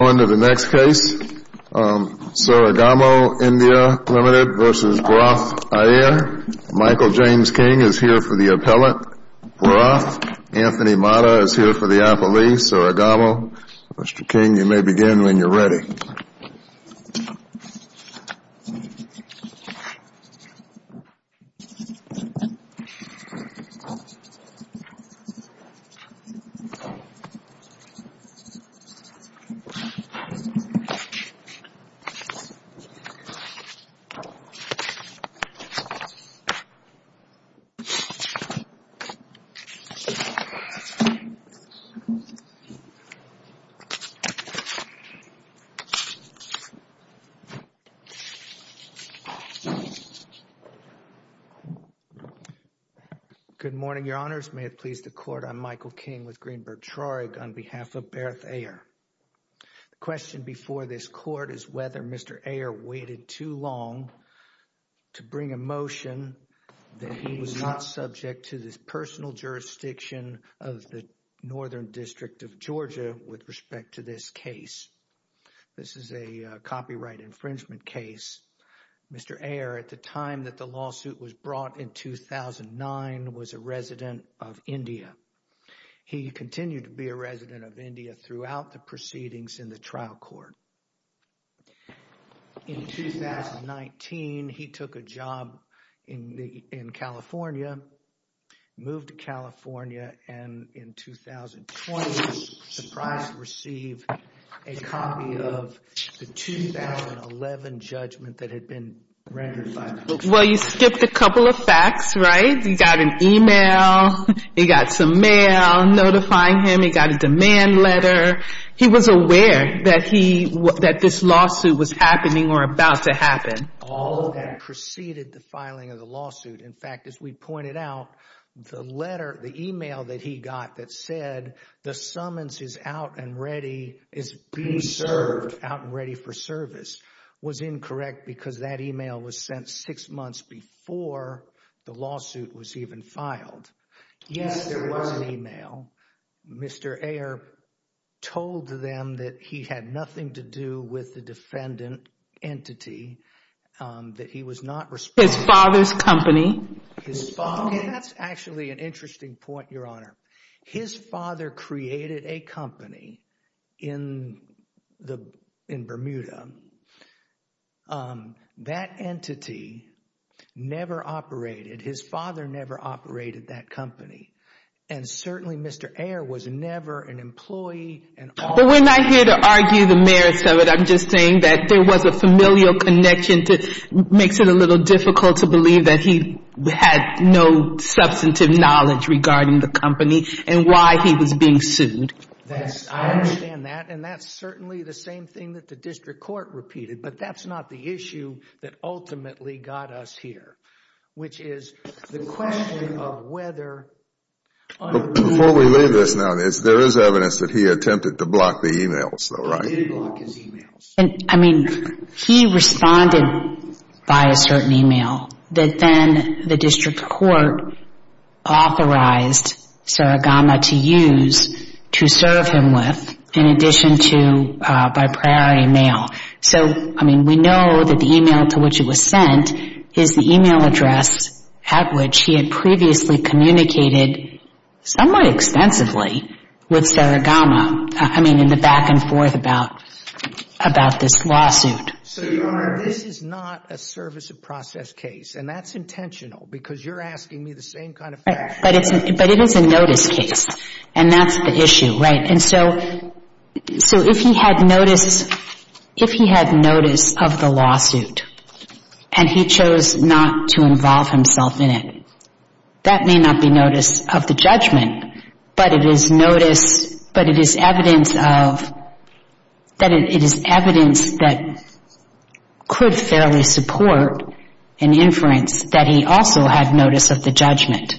Michael James King is here for the appellate, Bhrath. Anthony Mata is here for the appellee, Saregama. Mr. King, you may begin when you're ready. Good morning, Your Honors. May it please the Court, I'm Michael King with Greenberg-Trarig on behalf of Bhrath Aiyer. The question before this Court is whether Mr. Aiyer waited too long to bring a motion that he was not subject to this personal jurisdiction of the Northern District of Georgia with respect to this case. This is a copyright infringement case. Mr. Aiyer, at the time that the lawsuit was brought in 2009, was a resident of India. He continued to be a resident of India throughout the proceedings in the trial court. In 2019, he took a job in California, moved to California, and in 2020, surprised to receive a copy of the 2011 judgment that had been rendered by the court. Well, you skipped a couple of facts, right? He got an email, he got some mail notifying him, he got a demand letter. He was aware that this lawsuit was happening or about to happen. All of that preceded the filing of the lawsuit. In fact, as we pointed out, the email that he got that said, the summons is out and ready for service, was incorrect because that email was sent six months before the lawsuit was even filed. Yes, there was an email. Mr. Aiyer told them that he had nothing to do with the defendant entity, that he was not responsible. His father's company. His father, and that's actually an interesting point, Your Honor. His father created a company in Bermuda. That entity never operated. His father never operated that company. Certainly, Mr. Aiyer was never an employee. We're not here to argue the merits of it. I'm just saying that there was a familial connection that makes it a little difficult to believe that he had no substantive knowledge regarding the company and why he was being sued. I understand that. That's certainly the same thing that the district court repeated, but that's not the issue that ultimately got us here, which is the question of whether... Before we leave this now, there is evidence that he attempted to block the emails, though, He did block his emails. I mean, he responded by a certain email that then the district court authorized Saragama to use to serve him with, in addition to by prior email. So, I mean, we know that the email to which it was sent is the email address at which he had previously communicated somewhat extensively with Saragama, I mean, in the back and forth about this lawsuit. So, Your Honor, this is not a service of process case, and that's intentional because you're asking me the same kind of question. But it is a notice case, and that's the issue, right? And so if he had notice of the lawsuit and he chose not to involve himself in it, that may not be notice of the judgment, but it is evidence that could fairly support an inference that he also had notice of the judgment,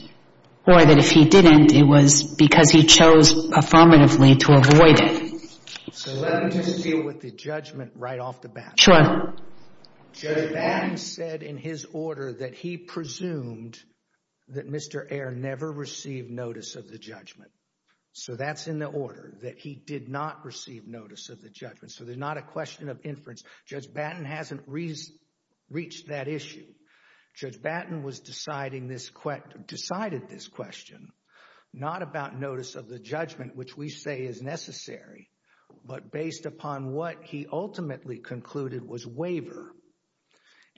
or that if he didn't, it was because he chose affirmatively to avoid it. So let me just deal with the judgment right off the bat. Sure. Judge Batten said in his order that he presumed that Mr. Ayer never received notice of the judgment. So that's in the order, that he did not receive notice of the judgment. So there's not a question of inference. Judge Batten hasn't reached that issue. Judge Batten decided this question not about notice of the judgment, which we say is necessary, but based upon what he ultimately concluded was waiver.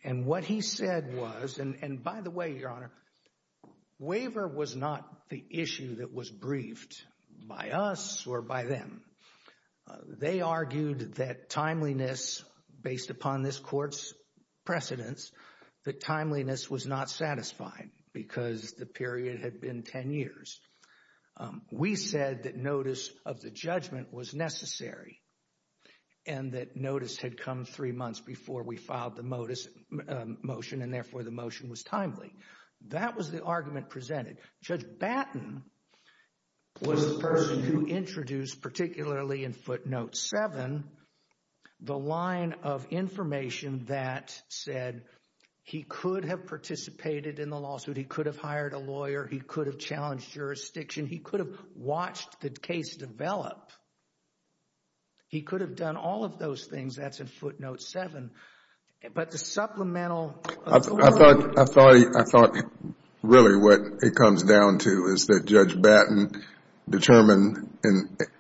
And what he said was, and by the way, Your Honor, waiver was not the issue that was briefed by us or by them. They argued that timeliness, based upon this court's precedence, that timeliness was not satisfied because the period had been 10 years. We said that notice of the judgment was necessary and that notice had come three months before we filed the motion, and therefore the motion was timely. That was the argument presented. Judge Batten was the person who introduced, particularly in footnote 7, the line of information that said he could have participated in the lawsuit, he could have hired a lawyer, he could have challenged jurisdiction, he could have watched the case develop. He could have done all of those things. That's in footnote 7. But the supplemental... I thought really what it comes down to is that Judge Batten determined,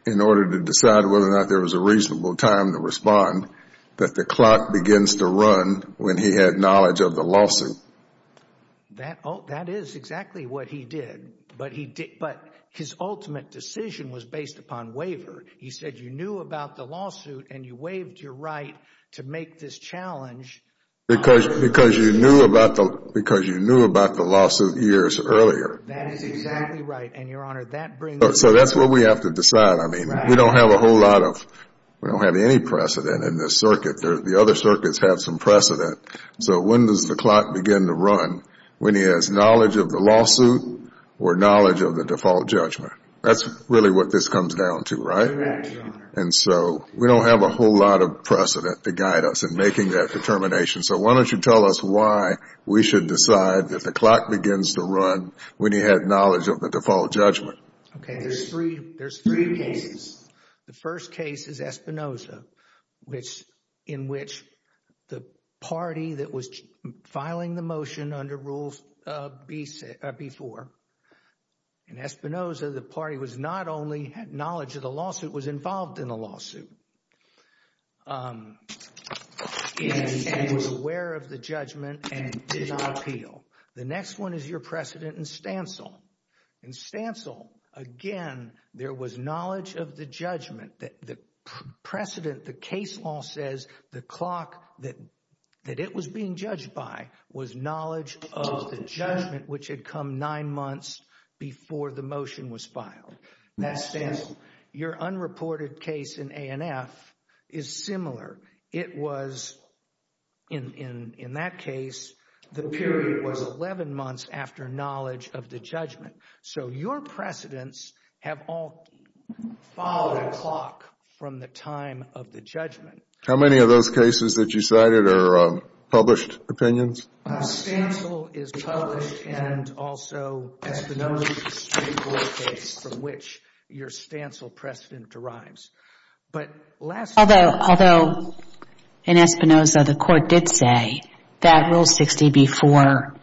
in order to decide whether or not there was a reasonable time to respond, that the clock begins to run when he had knowledge of the lawsuit. That is exactly what he did. But his ultimate decision was based upon waiver. He said you knew about the lawsuit and you waived your right to make this challenge. Because you knew about the lawsuit years earlier. That is exactly right. And, Your Honor, that brings... So that's what we have to decide. I mean, we don't have a whole lot of, we don't have any precedent in this circuit. The other circuits have some precedent. So when does the clock begin to run? When he has knowledge of the lawsuit or knowledge of the default judgment. That's really what this comes down to, right? Correct, Your Honor. And so we don't have a whole lot of precedent to guide us in making that determination. So why don't you tell us why we should decide that the clock begins to run when he had knowledge of the default judgment. Okay, there's three cases. The first case is Espinoza, in which the party that was filing the motion under Rule B-4, in Espinoza, the party was not only had knowledge of the lawsuit, it was involved in the lawsuit. It was aware of the judgment and did not appeal. The next one is your precedent in Stancil. In Stancil, again, there was knowledge of the judgment. The precedent, the case law says the clock that it was being judged by was knowledge of the judgment which had come nine months before the motion was filed. That's Stancil. Your unreported case in A&F is similar. It was, in that case, the period was 11 months after knowledge of the judgment. So your precedents have all followed a clock from the time of the judgment. How many of those cases that you cited are published opinions? Stancil is published and also Espinoza is a case from which your Stancil precedent derives. Although in Espinoza, the court did say that Rule 60B-4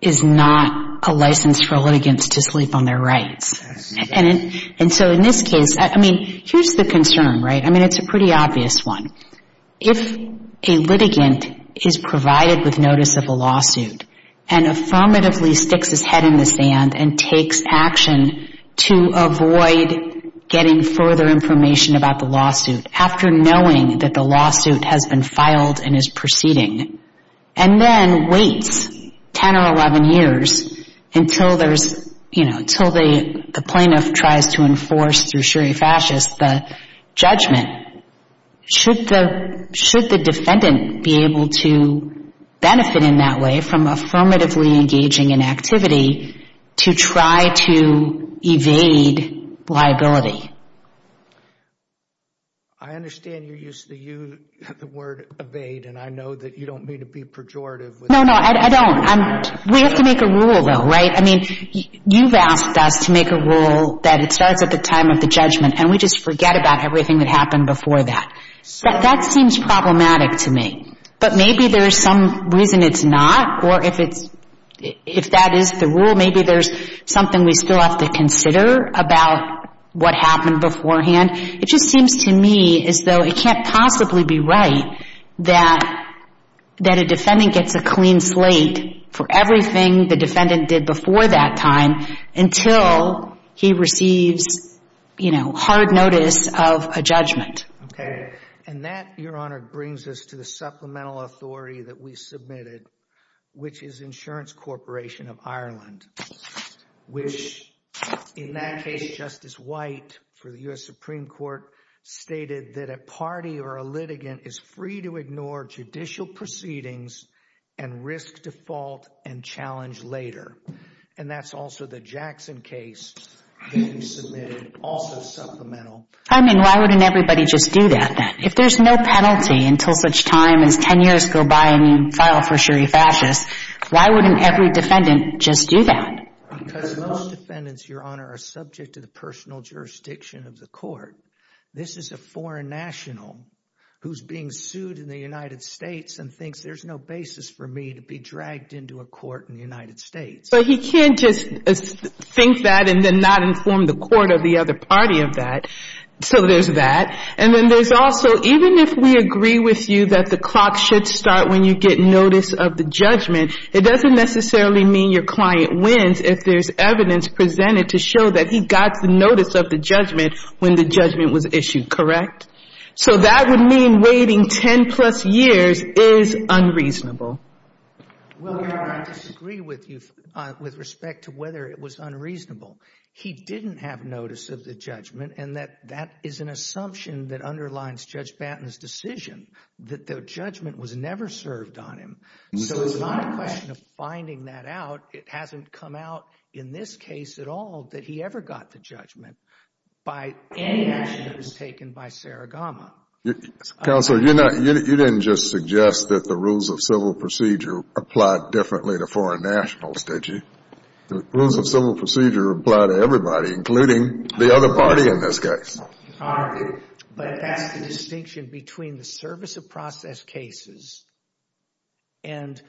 is not a license for litigants to sleep on their rights. And so in this case, I mean, here's the concern, right? I mean, it's a pretty obvious one. If a litigant is provided with notice of a lawsuit and affirmatively sticks his head in the sand and takes action to avoid getting further information about the lawsuit after knowing that the lawsuit has been filed and is proceeding, and then waits 10 or 11 years until there's, you know, until the plaintiff tries to enforce through sherry fascist the judgment, should the defendant be able to benefit in that way from affirmatively engaging in activity to try to evade liability? I understand you use the word evade, and I know that you don't mean to be pejorative. No, no, I don't. We have to make a rule, though, right? I mean, you've asked us to make a rule that it starts at the time of the judgment, and we just forget about everything that happened before that. That seems problematic to me. But maybe there's some reason it's not, or if that is the rule, maybe there's something we still have to consider about what happened beforehand. It just seems to me as though it can't possibly be right that a defendant gets a clean slate for everything the defendant did before that time until he receives, you know, hard notice of a judgment. Okay. And that, Your Honor, brings us to the supplemental authority that we submitted, which is Insurance Corporation of Ireland, which in that case Justice White for the U.S. Supreme Court stated that a party or a litigant is free to ignore judicial proceedings and risk default and challenge later. And that's also the Jackson case that we submitted, also supplemental. I mean, why wouldn't everybody just do that then? If there's no penalty until such time as 10 years go by and you file for sherry fascist, why wouldn't every defendant just do that? Because most defendants, Your Honor, are subject to the personal jurisdiction of the court. This is a foreign national who's being sued in the United States and thinks there's no basis for me to be dragged into a court in the United States. But he can't just think that and then not inform the court of the other party of that. So there's that. And then there's also even if we agree with you that the clock should start when you get notice of the judgment, it doesn't necessarily mean your client wins if there's evidence presented to show that he got the notice of the judgment when the judgment was issued, correct? So that would mean waiting 10 plus years is unreasonable. Well, Your Honor, I disagree with you with respect to whether it was unreasonable. He didn't have notice of the judgment, and that is an assumption that underlines Judge Banton's decision that the judgment was never served on him. So it's not a question of finding that out. It hasn't come out in this case at all that he ever got the judgment by any action that was taken by Saragama. Counsel, you didn't just suggest that the rules of civil procedure apply differently to foreign nationals, did you? Rules of civil procedure apply to everybody, including the other party in this case. But that's the distinction between the service of process cases and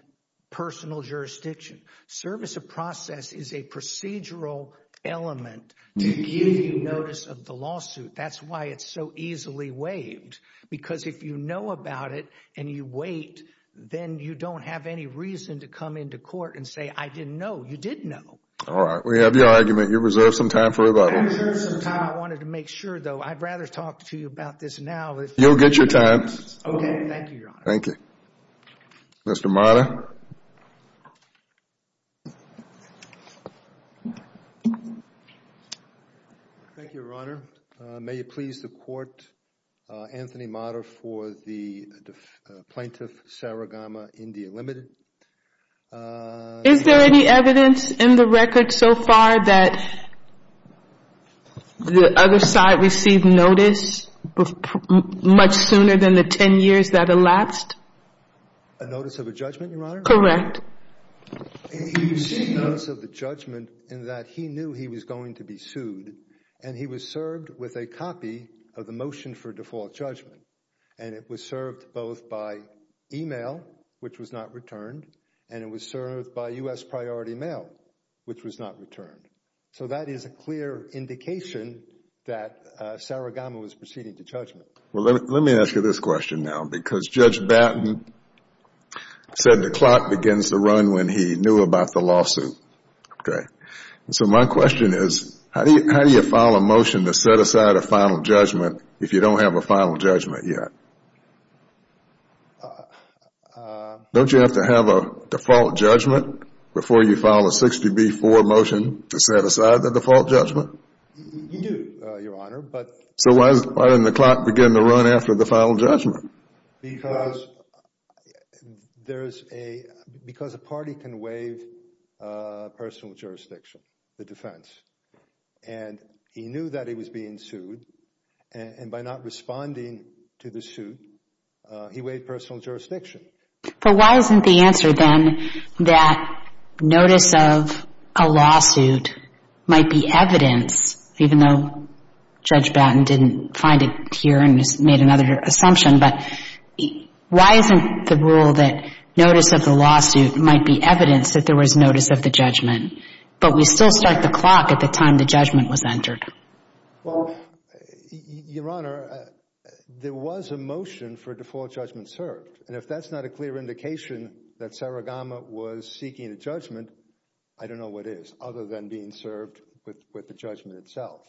personal jurisdiction. Service of process is a procedural element to give you notice of the lawsuit. That's why it's so easily waived, because if you know about it and you wait, then you don't have any reason to come into court and say, I didn't know. You did know. All right. We have your argument. You reserve some time for rebuttals. I wanted to make sure, though. I'd rather talk to you about this now. You'll get your time. Okay. Thank you, Your Honor. Thank you. Mr. Mata. Thank you, Your Honor. May it please the Court, Anthony Mata for the plaintiff, Saragama, India Limited. Is there any evidence in the record so far that the other side received notice much sooner than the ten years that elapsed? A notice of a judgment, Your Honor? Correct. He received notice of the judgment in that he knew he was going to be sued, and he was served with a copy of the motion for default judgment. And it was served both by e-mail, which was not returned, and it was served by U.S. Priority Mail, which was not returned. So that is a clear indication that Saragama was proceeding to judgment. Well, let me ask you this question now, because Judge Batten said the clock begins to run when he knew about the lawsuit. Okay. So my question is, how do you file a motion to set aside a final judgment if you don't have a final judgment yet? Don't you have to have a default judgment before you file a 60B4 motion to set aside the default judgment? You do, Your Honor. So why doesn't the clock begin to run after the final judgment? Because a party can waive personal jurisdiction, the defense. And he knew that he was being sued, and by not responding to the suit, he waived personal jurisdiction. But why isn't the answer then that notice of a lawsuit might be evidence, even though Judge Batten didn't find it here and just made another assumption, but why isn't the rule that notice of the lawsuit might be evidence that there was notice of the judgment, but we still start the clock at the time the judgment was entered? Well, Your Honor, there was a motion for default judgment served. And if that's not a clear indication that Saragama was seeking a judgment, I don't know what is, other than being served with the judgment itself.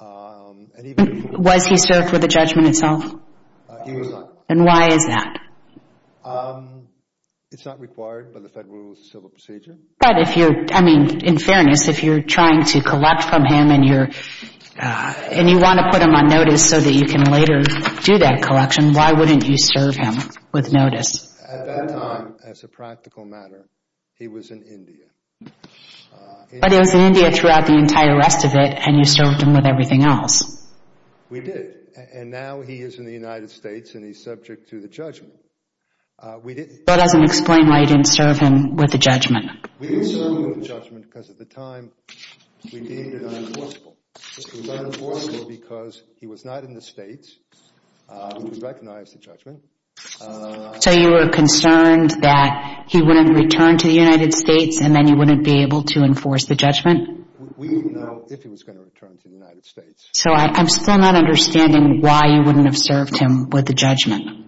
Was he served with the judgment itself? He was not. And why is that? It's not required by the Federal Rules of Civil Procedure. But if you're, I mean, in fairness, if you're trying to collect from him and you want to put him on notice so that you can later do that collection, why wouldn't you serve him with notice? At that time, as a practical matter, he was in India. But he was in India throughout the entire rest of it, and you served him with everything else. We did. And now he is in the United States, and he's subject to the judgment. That doesn't explain why you didn't serve him with the judgment. We didn't serve him with the judgment because at the time we deemed it unenforceable. It was unenforceable because he was not in the States, which we recognize the judgment. So you were concerned that he wouldn't return to the United States and then you wouldn't be able to enforce the judgment? We didn't know if he was going to return to the United States. So I'm still not understanding why you wouldn't have served him with the judgment.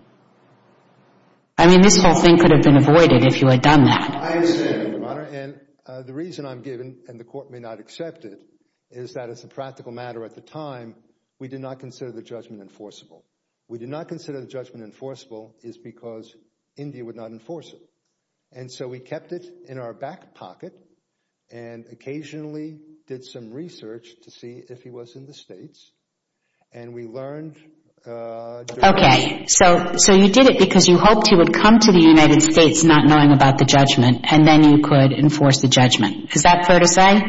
I mean, this whole thing could have been avoided if you had done that. I understand, Your Honor, and the reason I'm giving, and the court may not accept it, is that as a practical matter at the time, we did not consider the judgment enforceable. We did not consider the judgment enforceable because India would not enforce it. And so we kept it in our back pocket and occasionally did some research to see if he was in the States, and we learned during that time. Okay, so you did it because you hoped he would come to the United States not knowing about the judgment and then you could enforce the judgment. Is that fair to say?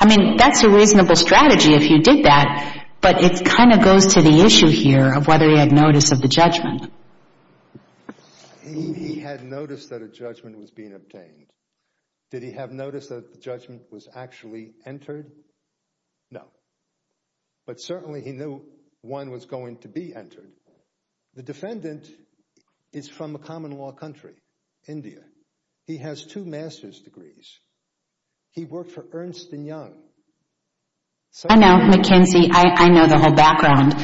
I mean, that's a reasonable strategy if you did that, but it kind of goes to the issue here of whether he had notice of the judgment. He had notice that a judgment was being obtained. Did he have notice that the judgment was actually entered? No. But certainly he knew one was going to be entered. The defendant is from a common law country, India. He has two master's degrees. He worked for Ernst & Young. I know, McKinsey. I know the whole background.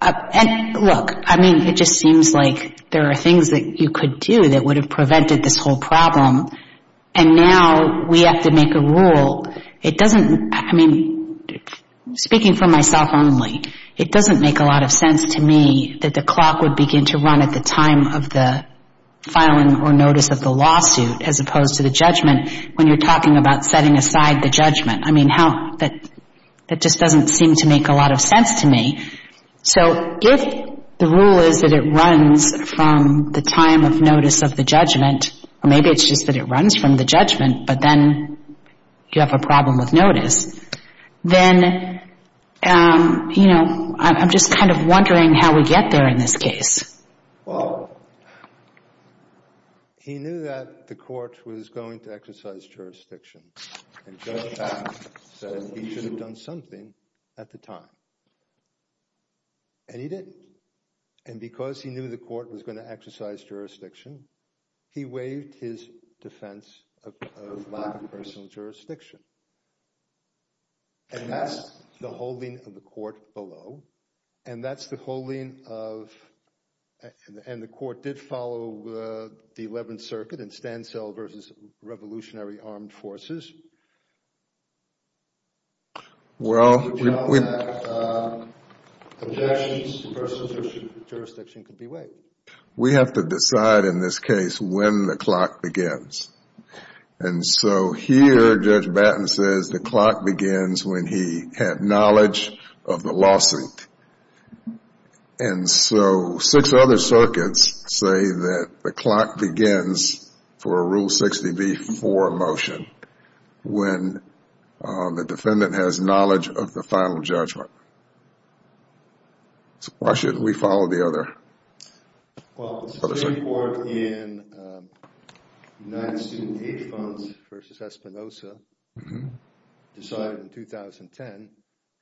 And look, I mean, it just seems like there are things that you could do that would have prevented this whole problem, and now we have to make a rule. I mean, speaking for myself only, it doesn't make a lot of sense to me that the clock would begin to run at the time of the filing or notice of the lawsuit as opposed to the judgment when you're talking about setting aside the judgment. I mean, that just doesn't seem to make a lot of sense to me. So if the rule is that it runs from the time of notice of the judgment, or maybe it's just that it runs from the judgment, but then you have a problem with notice, then, you know, I'm just kind of wondering how we get there in this case. Well, he knew that the court was going to exercise jurisdiction, and Judge Patton said he should have done something at the time, and he didn't. And because he knew the court was going to exercise jurisdiction, he waived his defense of lack of personal jurisdiction. And that's the holding of the court below, and that's the holding of— and the court did follow the 11th Circuit in Stansell v. Revolutionary Armed Forces. Well, we— Objections to personal jurisdiction could be waived. We have to decide in this case when the clock begins. And so here, Judge Patton says the clock begins when he had knowledge of the lawsuit. And so six other circuits say that the clock begins for a Rule 60b-4 motion. When the defendant has knowledge of the final judgment. So why shouldn't we follow the other— Well, the Supreme Court in United Student Aid Funds v. Espinosa decided in 2010,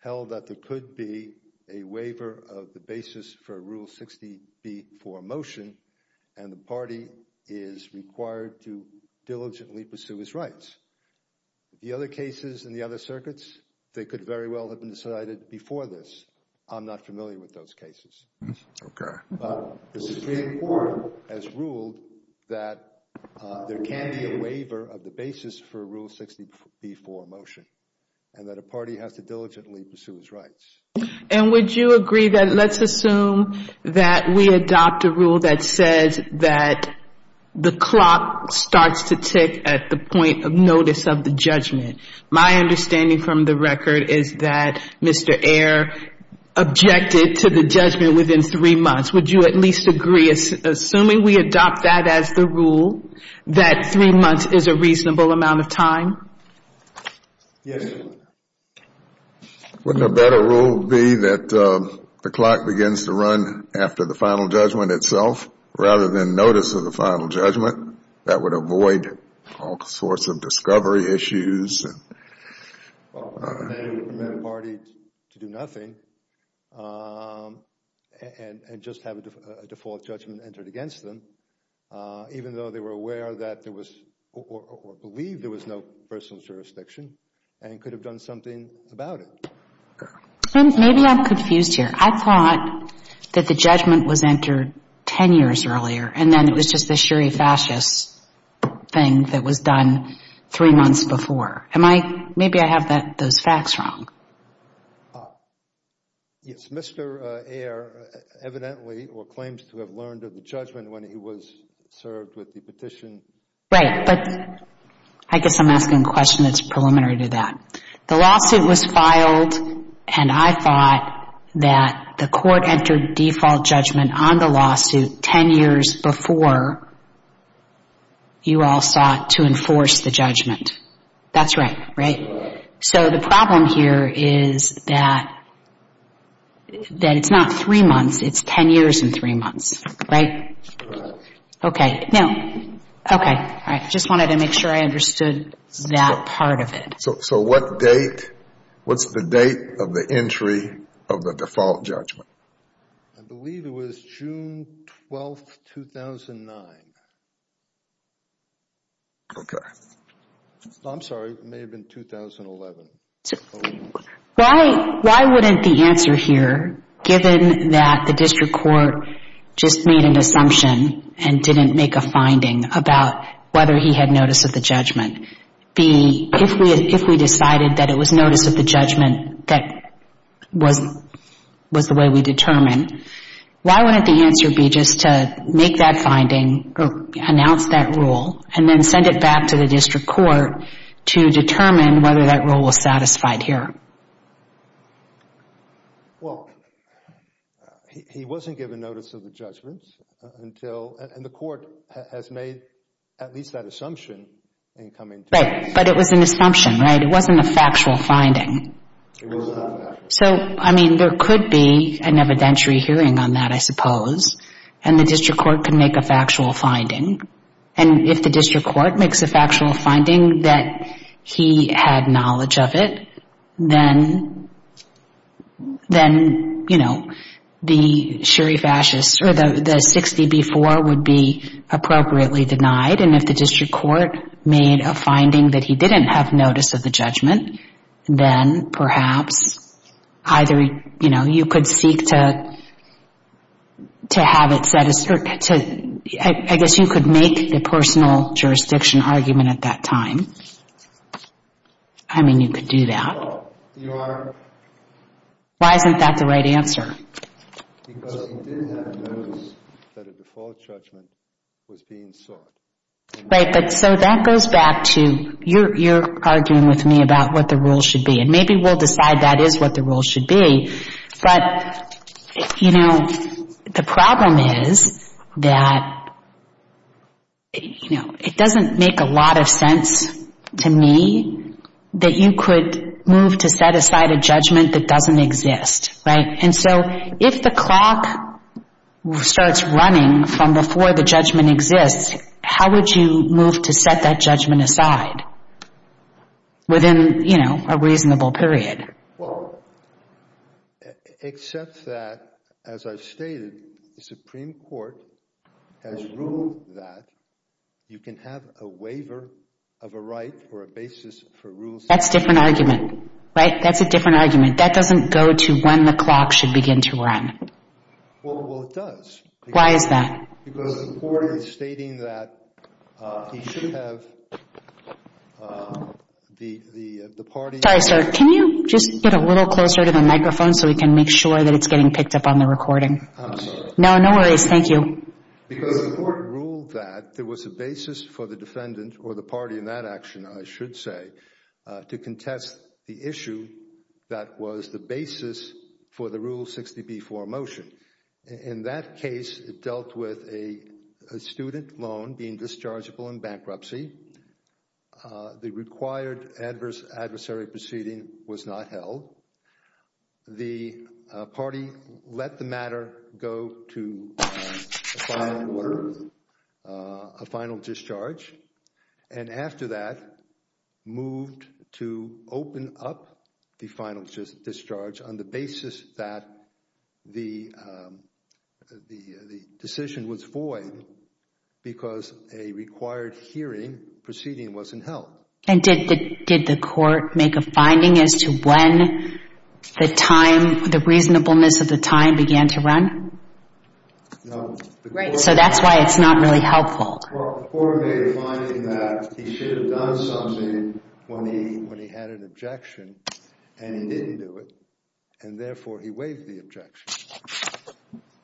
held that there could be a waiver of the basis for a Rule 60b-4 motion, and the party is required to diligently pursue its rights. The other cases in the other circuits, they could very well have been decided before this. I'm not familiar with those cases. Okay. But the Supreme Court has ruled that there can be a waiver of the basis for a Rule 60b-4 motion, and that a party has to diligently pursue its rights. And would you agree that let's assume that we adopt a rule that says that the clock starts to tick at the point of notice of the judgment. My understanding from the record is that Mr. Ayer objected to the judgment within three months. Would you at least agree, assuming we adopt that as the rule, that three months is a reasonable amount of time? Yes. Wouldn't a better rule be that the clock begins to run after the final judgment itself, rather than notice of the final judgment? That would avoid all sorts of discovery issues. Well, they would permit a party to do nothing and just have a default judgment entered against them, even though they were aware that there was or believed there was no personal jurisdiction and could have done something about it. Maybe I'm confused here. I thought that the judgment was entered ten years earlier, and then it was just the sherry fascist thing that was done three months before. Maybe I have those facts wrong. Yes, Mr. Ayer evidently or claims to have learned of the judgment when he was served with the petition. Right, but I guess I'm asking a question that's preliminary to that. The lawsuit was filed, and I thought that the court entered default judgment on the lawsuit ten years before you all sought to enforce the judgment. That's right, right? So the problem here is that it's not three months. It's ten years and three months, right? Right. Okay. Now, okay. All right. I just wanted to make sure I understood that part of it. So what date, what's the date of the entry of the default judgment? I believe it was June 12, 2009. Okay. I'm sorry. It may have been 2011. Why wouldn't the answer here, given that the district court just made an assumption and didn't make a finding about whether he had notice of the judgment, be if we decided that it was notice of the judgment that was the way we determined, why wouldn't the answer be just to make that finding or announce that rule and then send it back to the district court to determine whether that rule was satisfied here? Well, he wasn't given notice of the judgments until, and the court has made at least that assumption in coming to this. Right, but it was an assumption, right? It wasn't a factual finding. It was not a factual finding. So, I mean, there could be an evidentiary hearing on that, I suppose, and the district court could make a factual finding. And if the district court makes a factual finding that he had knowledge of it, then, you know, the sherry fascist or the 60B4 would be appropriately denied. And if the district court made a finding that he didn't have notice of the judgment, then perhaps either, you know, you could seek to have it set aside. I guess you could make the personal jurisdiction argument at that time. I mean, you could do that. Why isn't that the right answer? Because he did have notice that a default judgment was being sought. Right, but so that goes back to you're arguing with me about what the rules should be, and maybe we'll decide that is what the rules should be. But, you know, the problem is that, you know, it doesn't make a lot of sense to me that you could move to set aside a judgment that doesn't exist, right? And so if the clock starts running from before the judgment exists, how would you move to set that judgment aside within, you know, a reasonable period? Well, except that, as I've stated, the Supreme Court has ruled that you can have a waiver of a right or a basis for rules. That's a different argument, right? That's a different argument. That doesn't go to when the clock should begin to run. Well, it does. Why is that? Because the court is stating that he should have the party. Sorry, sir. Can you just get a little closer to the microphone so we can make sure that it's getting picked up on the recording? I'm sorry. No, no worries. Thank you. Because the court ruled that there was a basis for the defendant or the party in that action, I should say, to contest the issue that was the basis for the Rule 60b-4 motion. In that case, it dealt with a student loan being dischargeable in bankruptcy. The required adversary proceeding was not held. The party let the matter go to a final order, a final discharge, and after that moved to open up the final discharge on the basis that the decision was void because a required hearing proceeding wasn't held. And did the court make a finding as to when the reasonableness of the time began to run? No. So that's why it's not really helpful. Well, the court made a finding that he should have done something when he had an objection and he didn't do it and therefore he waived the objection.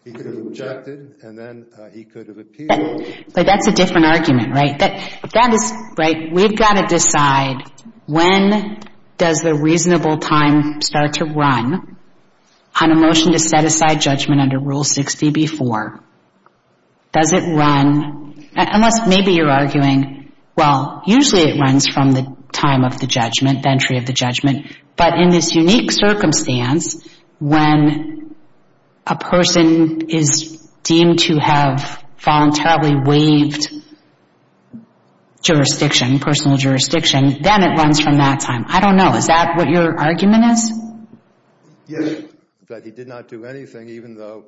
He could have objected and then he could have appealed. But that's a different argument, right? That is, right, we've got to decide when does the reasonable time start to run on a motion to set aside judgment under Rule 60b-4? Does it run? Unless maybe you're arguing, well, usually it runs from the time of the judgment, the entry of the judgment, but in this unique circumstance, when a person is deemed to have voluntarily waived jurisdiction, personal jurisdiction, then it runs from that time. I don't know. Is that what your argument is? Yes. That he did not do anything even though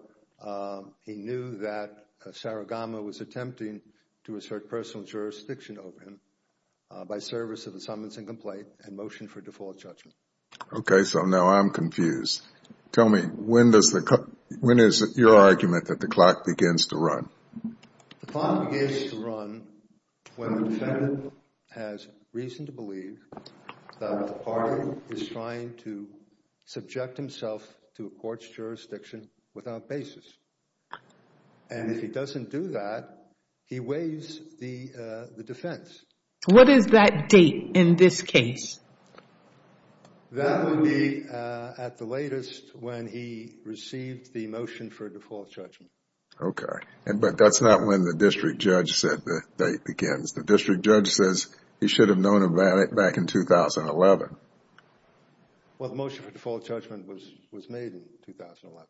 he knew that Saragama was attempting to assert personal jurisdiction over him by service of the summons and complaint and motion for default judgment. Okay, so now I'm confused. Tell me, when is your argument that the clock begins to run? The clock begins to run when the defendant has reason to believe that the party is trying to subject himself to a court's jurisdiction without basis. And if he doesn't do that, he waives the defense. What is that date in this case? That would be at the latest when he received the motion for default judgment. Okay, but that's not when the district judge said the date begins. The district judge says he should have known about it back in 2011. Well, the motion for default judgment was made in 2011.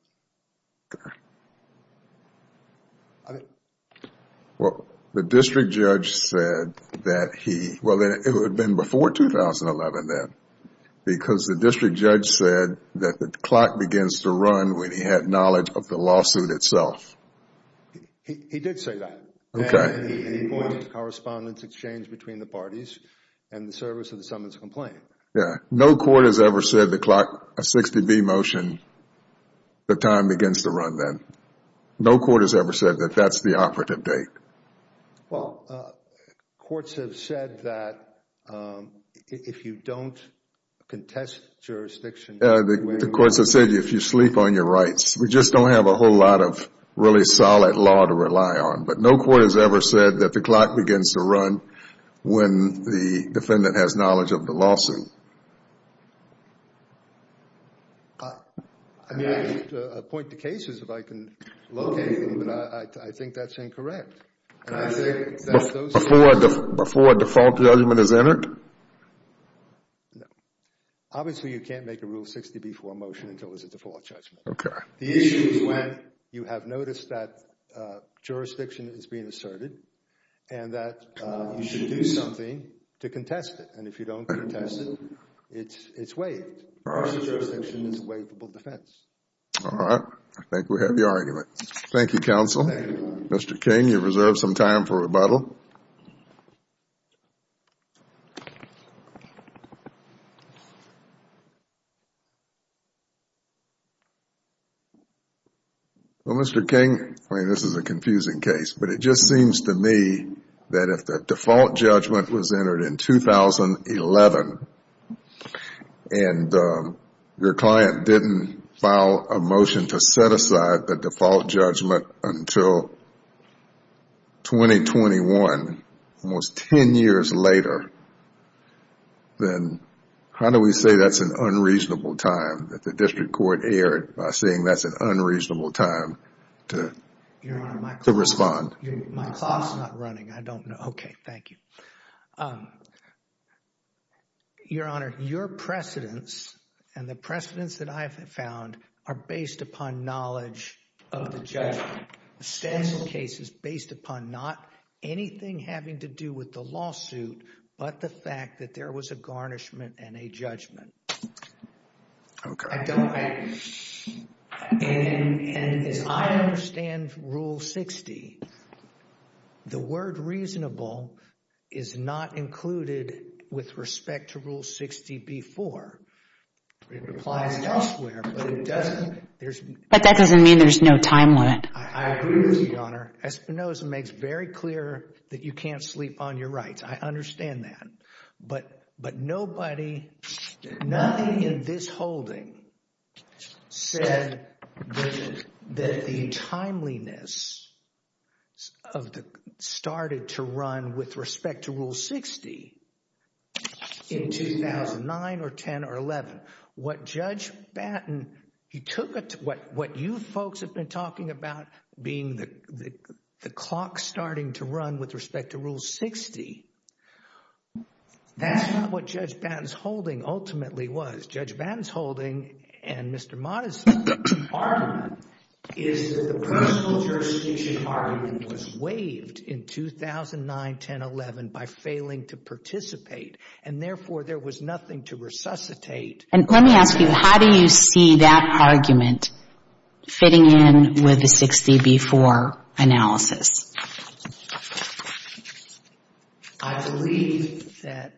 Well, the district judge said that he, well, it would have been before 2011 then because the district judge said that the clock begins to run when he had knowledge of the lawsuit itself. He did say that. Okay. And he wanted correspondence exchanged between the parties and the service of the summons and complaint. Yeah, no court has ever said the clock, a 60-B motion, the time begins to run then. No court has ever said that that's the operative date. Well, courts have said that if you don't contest jurisdiction. The courts have said if you sleep on your rights. We just don't have a whole lot of really solid law to rely on. But no court has ever said that the clock begins to run when the defendant has knowledge of the lawsuit. I mean, I need to point to cases if I can locate them, but I think that's incorrect. Before a default judgment is entered? No. Obviously, you can't make a rule 60-B for a motion until it's a default judgment. Okay. The issue is when you have noticed that jurisdiction is being asserted and that you should do something to contest it. And if you don't contest it, it's waived. Jurisdiction is a waivable defense. All right. I think we have your argument. Thank you, counsel. Thank you. Mr. King, you reserve some time for rebuttal. Well, Mr. King, this is a confusing case. But it just seems to me that if the default judgment was entered in 2011 and your client didn't file a motion to set aside the default judgment until 2021, almost ten years later, then how do we say that's an unreasonable time that the district court erred by saying that's an unreasonable time to respond? Your Honor, my clock is not running. I don't know. Okay, thank you. Your Honor, your precedents and the precedents that I have found are based upon knowledge of the judgment. The status of the case is based upon not anything having to do with the lawsuit but the fact that there was a garnishment and a judgment. Okay. And as I understand Rule 60, the word reasonable is not included with respect to Rule 60 before. It applies elsewhere, but it doesn't. But that doesn't mean there's no time limit. I agree with you, Your Honor. Espinosa makes very clear that you can't sleep on your rights. I understand that. But nobody, nothing in this holding said that the timeliness started to run with respect to Rule 60 in 2009 or 10 or 11. What Judge Batten, he took what you folks have been talking about being the clock starting to run with respect to Rule 60. That's not what Judge Batten's holding ultimately was. Judge Batten's holding and Mr. Mott's argument is that the personal jurisdiction argument was waived in 2009, 10, 11 by failing to participate, and therefore there was nothing to resuscitate. And let me ask you, how do you see that argument fitting in with the 60 before analysis? I believe that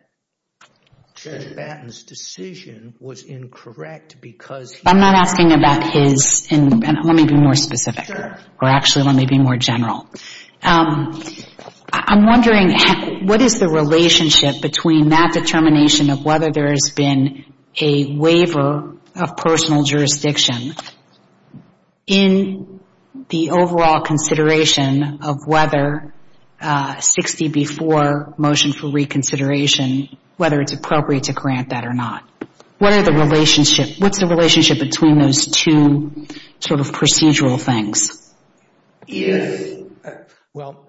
Judge Batten's decision was incorrect because he was. I'm not asking about his, and let me be more specific. Or actually let me be more general. I'm wondering what is the relationship between that determination of whether there has been a waiver of personal jurisdiction in the overall consideration of whether 60 before motion for reconsideration, whether it's appropriate to grant that or not. What are the relationship, what's the relationship between those two sort of procedural things? Yes. Well,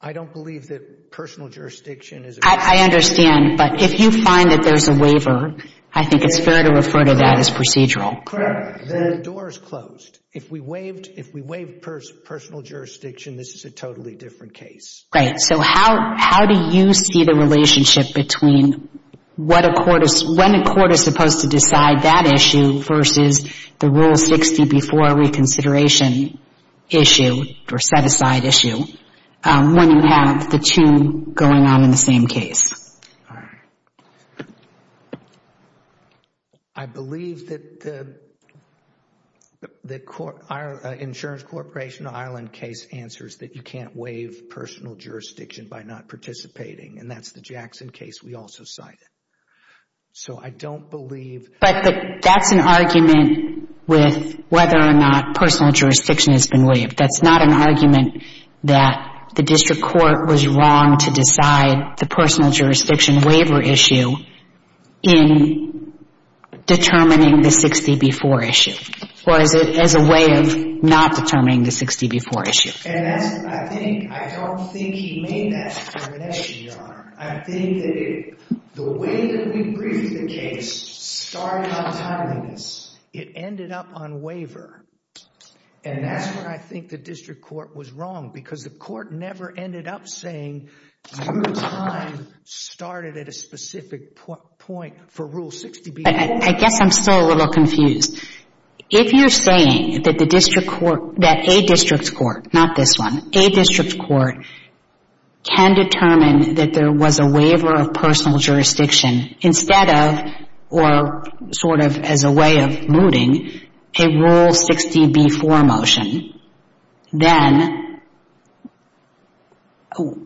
I don't believe that personal jurisdiction is. I understand, but if you find that there's a waiver, I think it's fair to refer to that as procedural. Correct. The door is closed. If we waived personal jurisdiction, this is a totally different case. Great. So how do you see the relationship between when a court is supposed to decide that issue versus the rule 60 before reconsideration issue, or set-aside issue, when you have the two going on in the same case? All right. I believe that the Insurance Corporation Ireland case answers that you can't waive personal jurisdiction by not participating, and that's the Jackson case we also cited. So I don't believe. But that's an argument with whether or not personal jurisdiction has been waived. That's not an argument that the district court was wrong to decide the personal jurisdiction waiver issue in determining the 60 before issue, or as a way of not determining the 60 before issue. And I think, I don't think he made that determination, Your Honor. I think that the way that we briefed the case started on timeliness. It ended up on waiver, and that's where I think the district court was wrong, because the court never ended up saying your time started at a specific point for rule 60 before. I guess I'm still a little confused. If you're saying that the district court, that a district court, not this one, a district court can determine that there was a waiver of personal jurisdiction instead of, or sort of as a way of mooting, a rule 60 before motion, then,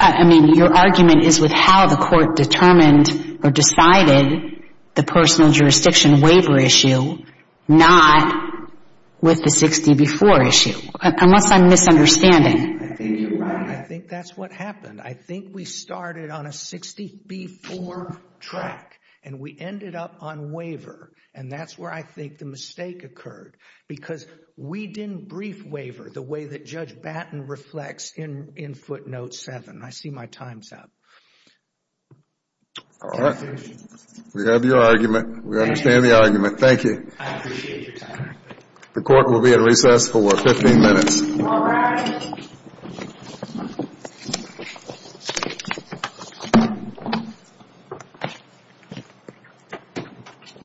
I mean, your argument is with how the court determined or decided the personal jurisdiction waiver issue, not with the 60 before issue. Unless I'm misunderstanding. I think you're right. I think that's what happened. I think we started on a 60 before track, and we ended up on waiver, and that's where I think the mistake occurred, because we didn't brief waiver the way that Judge Batten reflects in footnote 7. I see my time's up. All right. We have your argument. We understand the argument. Thank you. I appreciate your time. The court will be at recess for 15 minutes. All rise.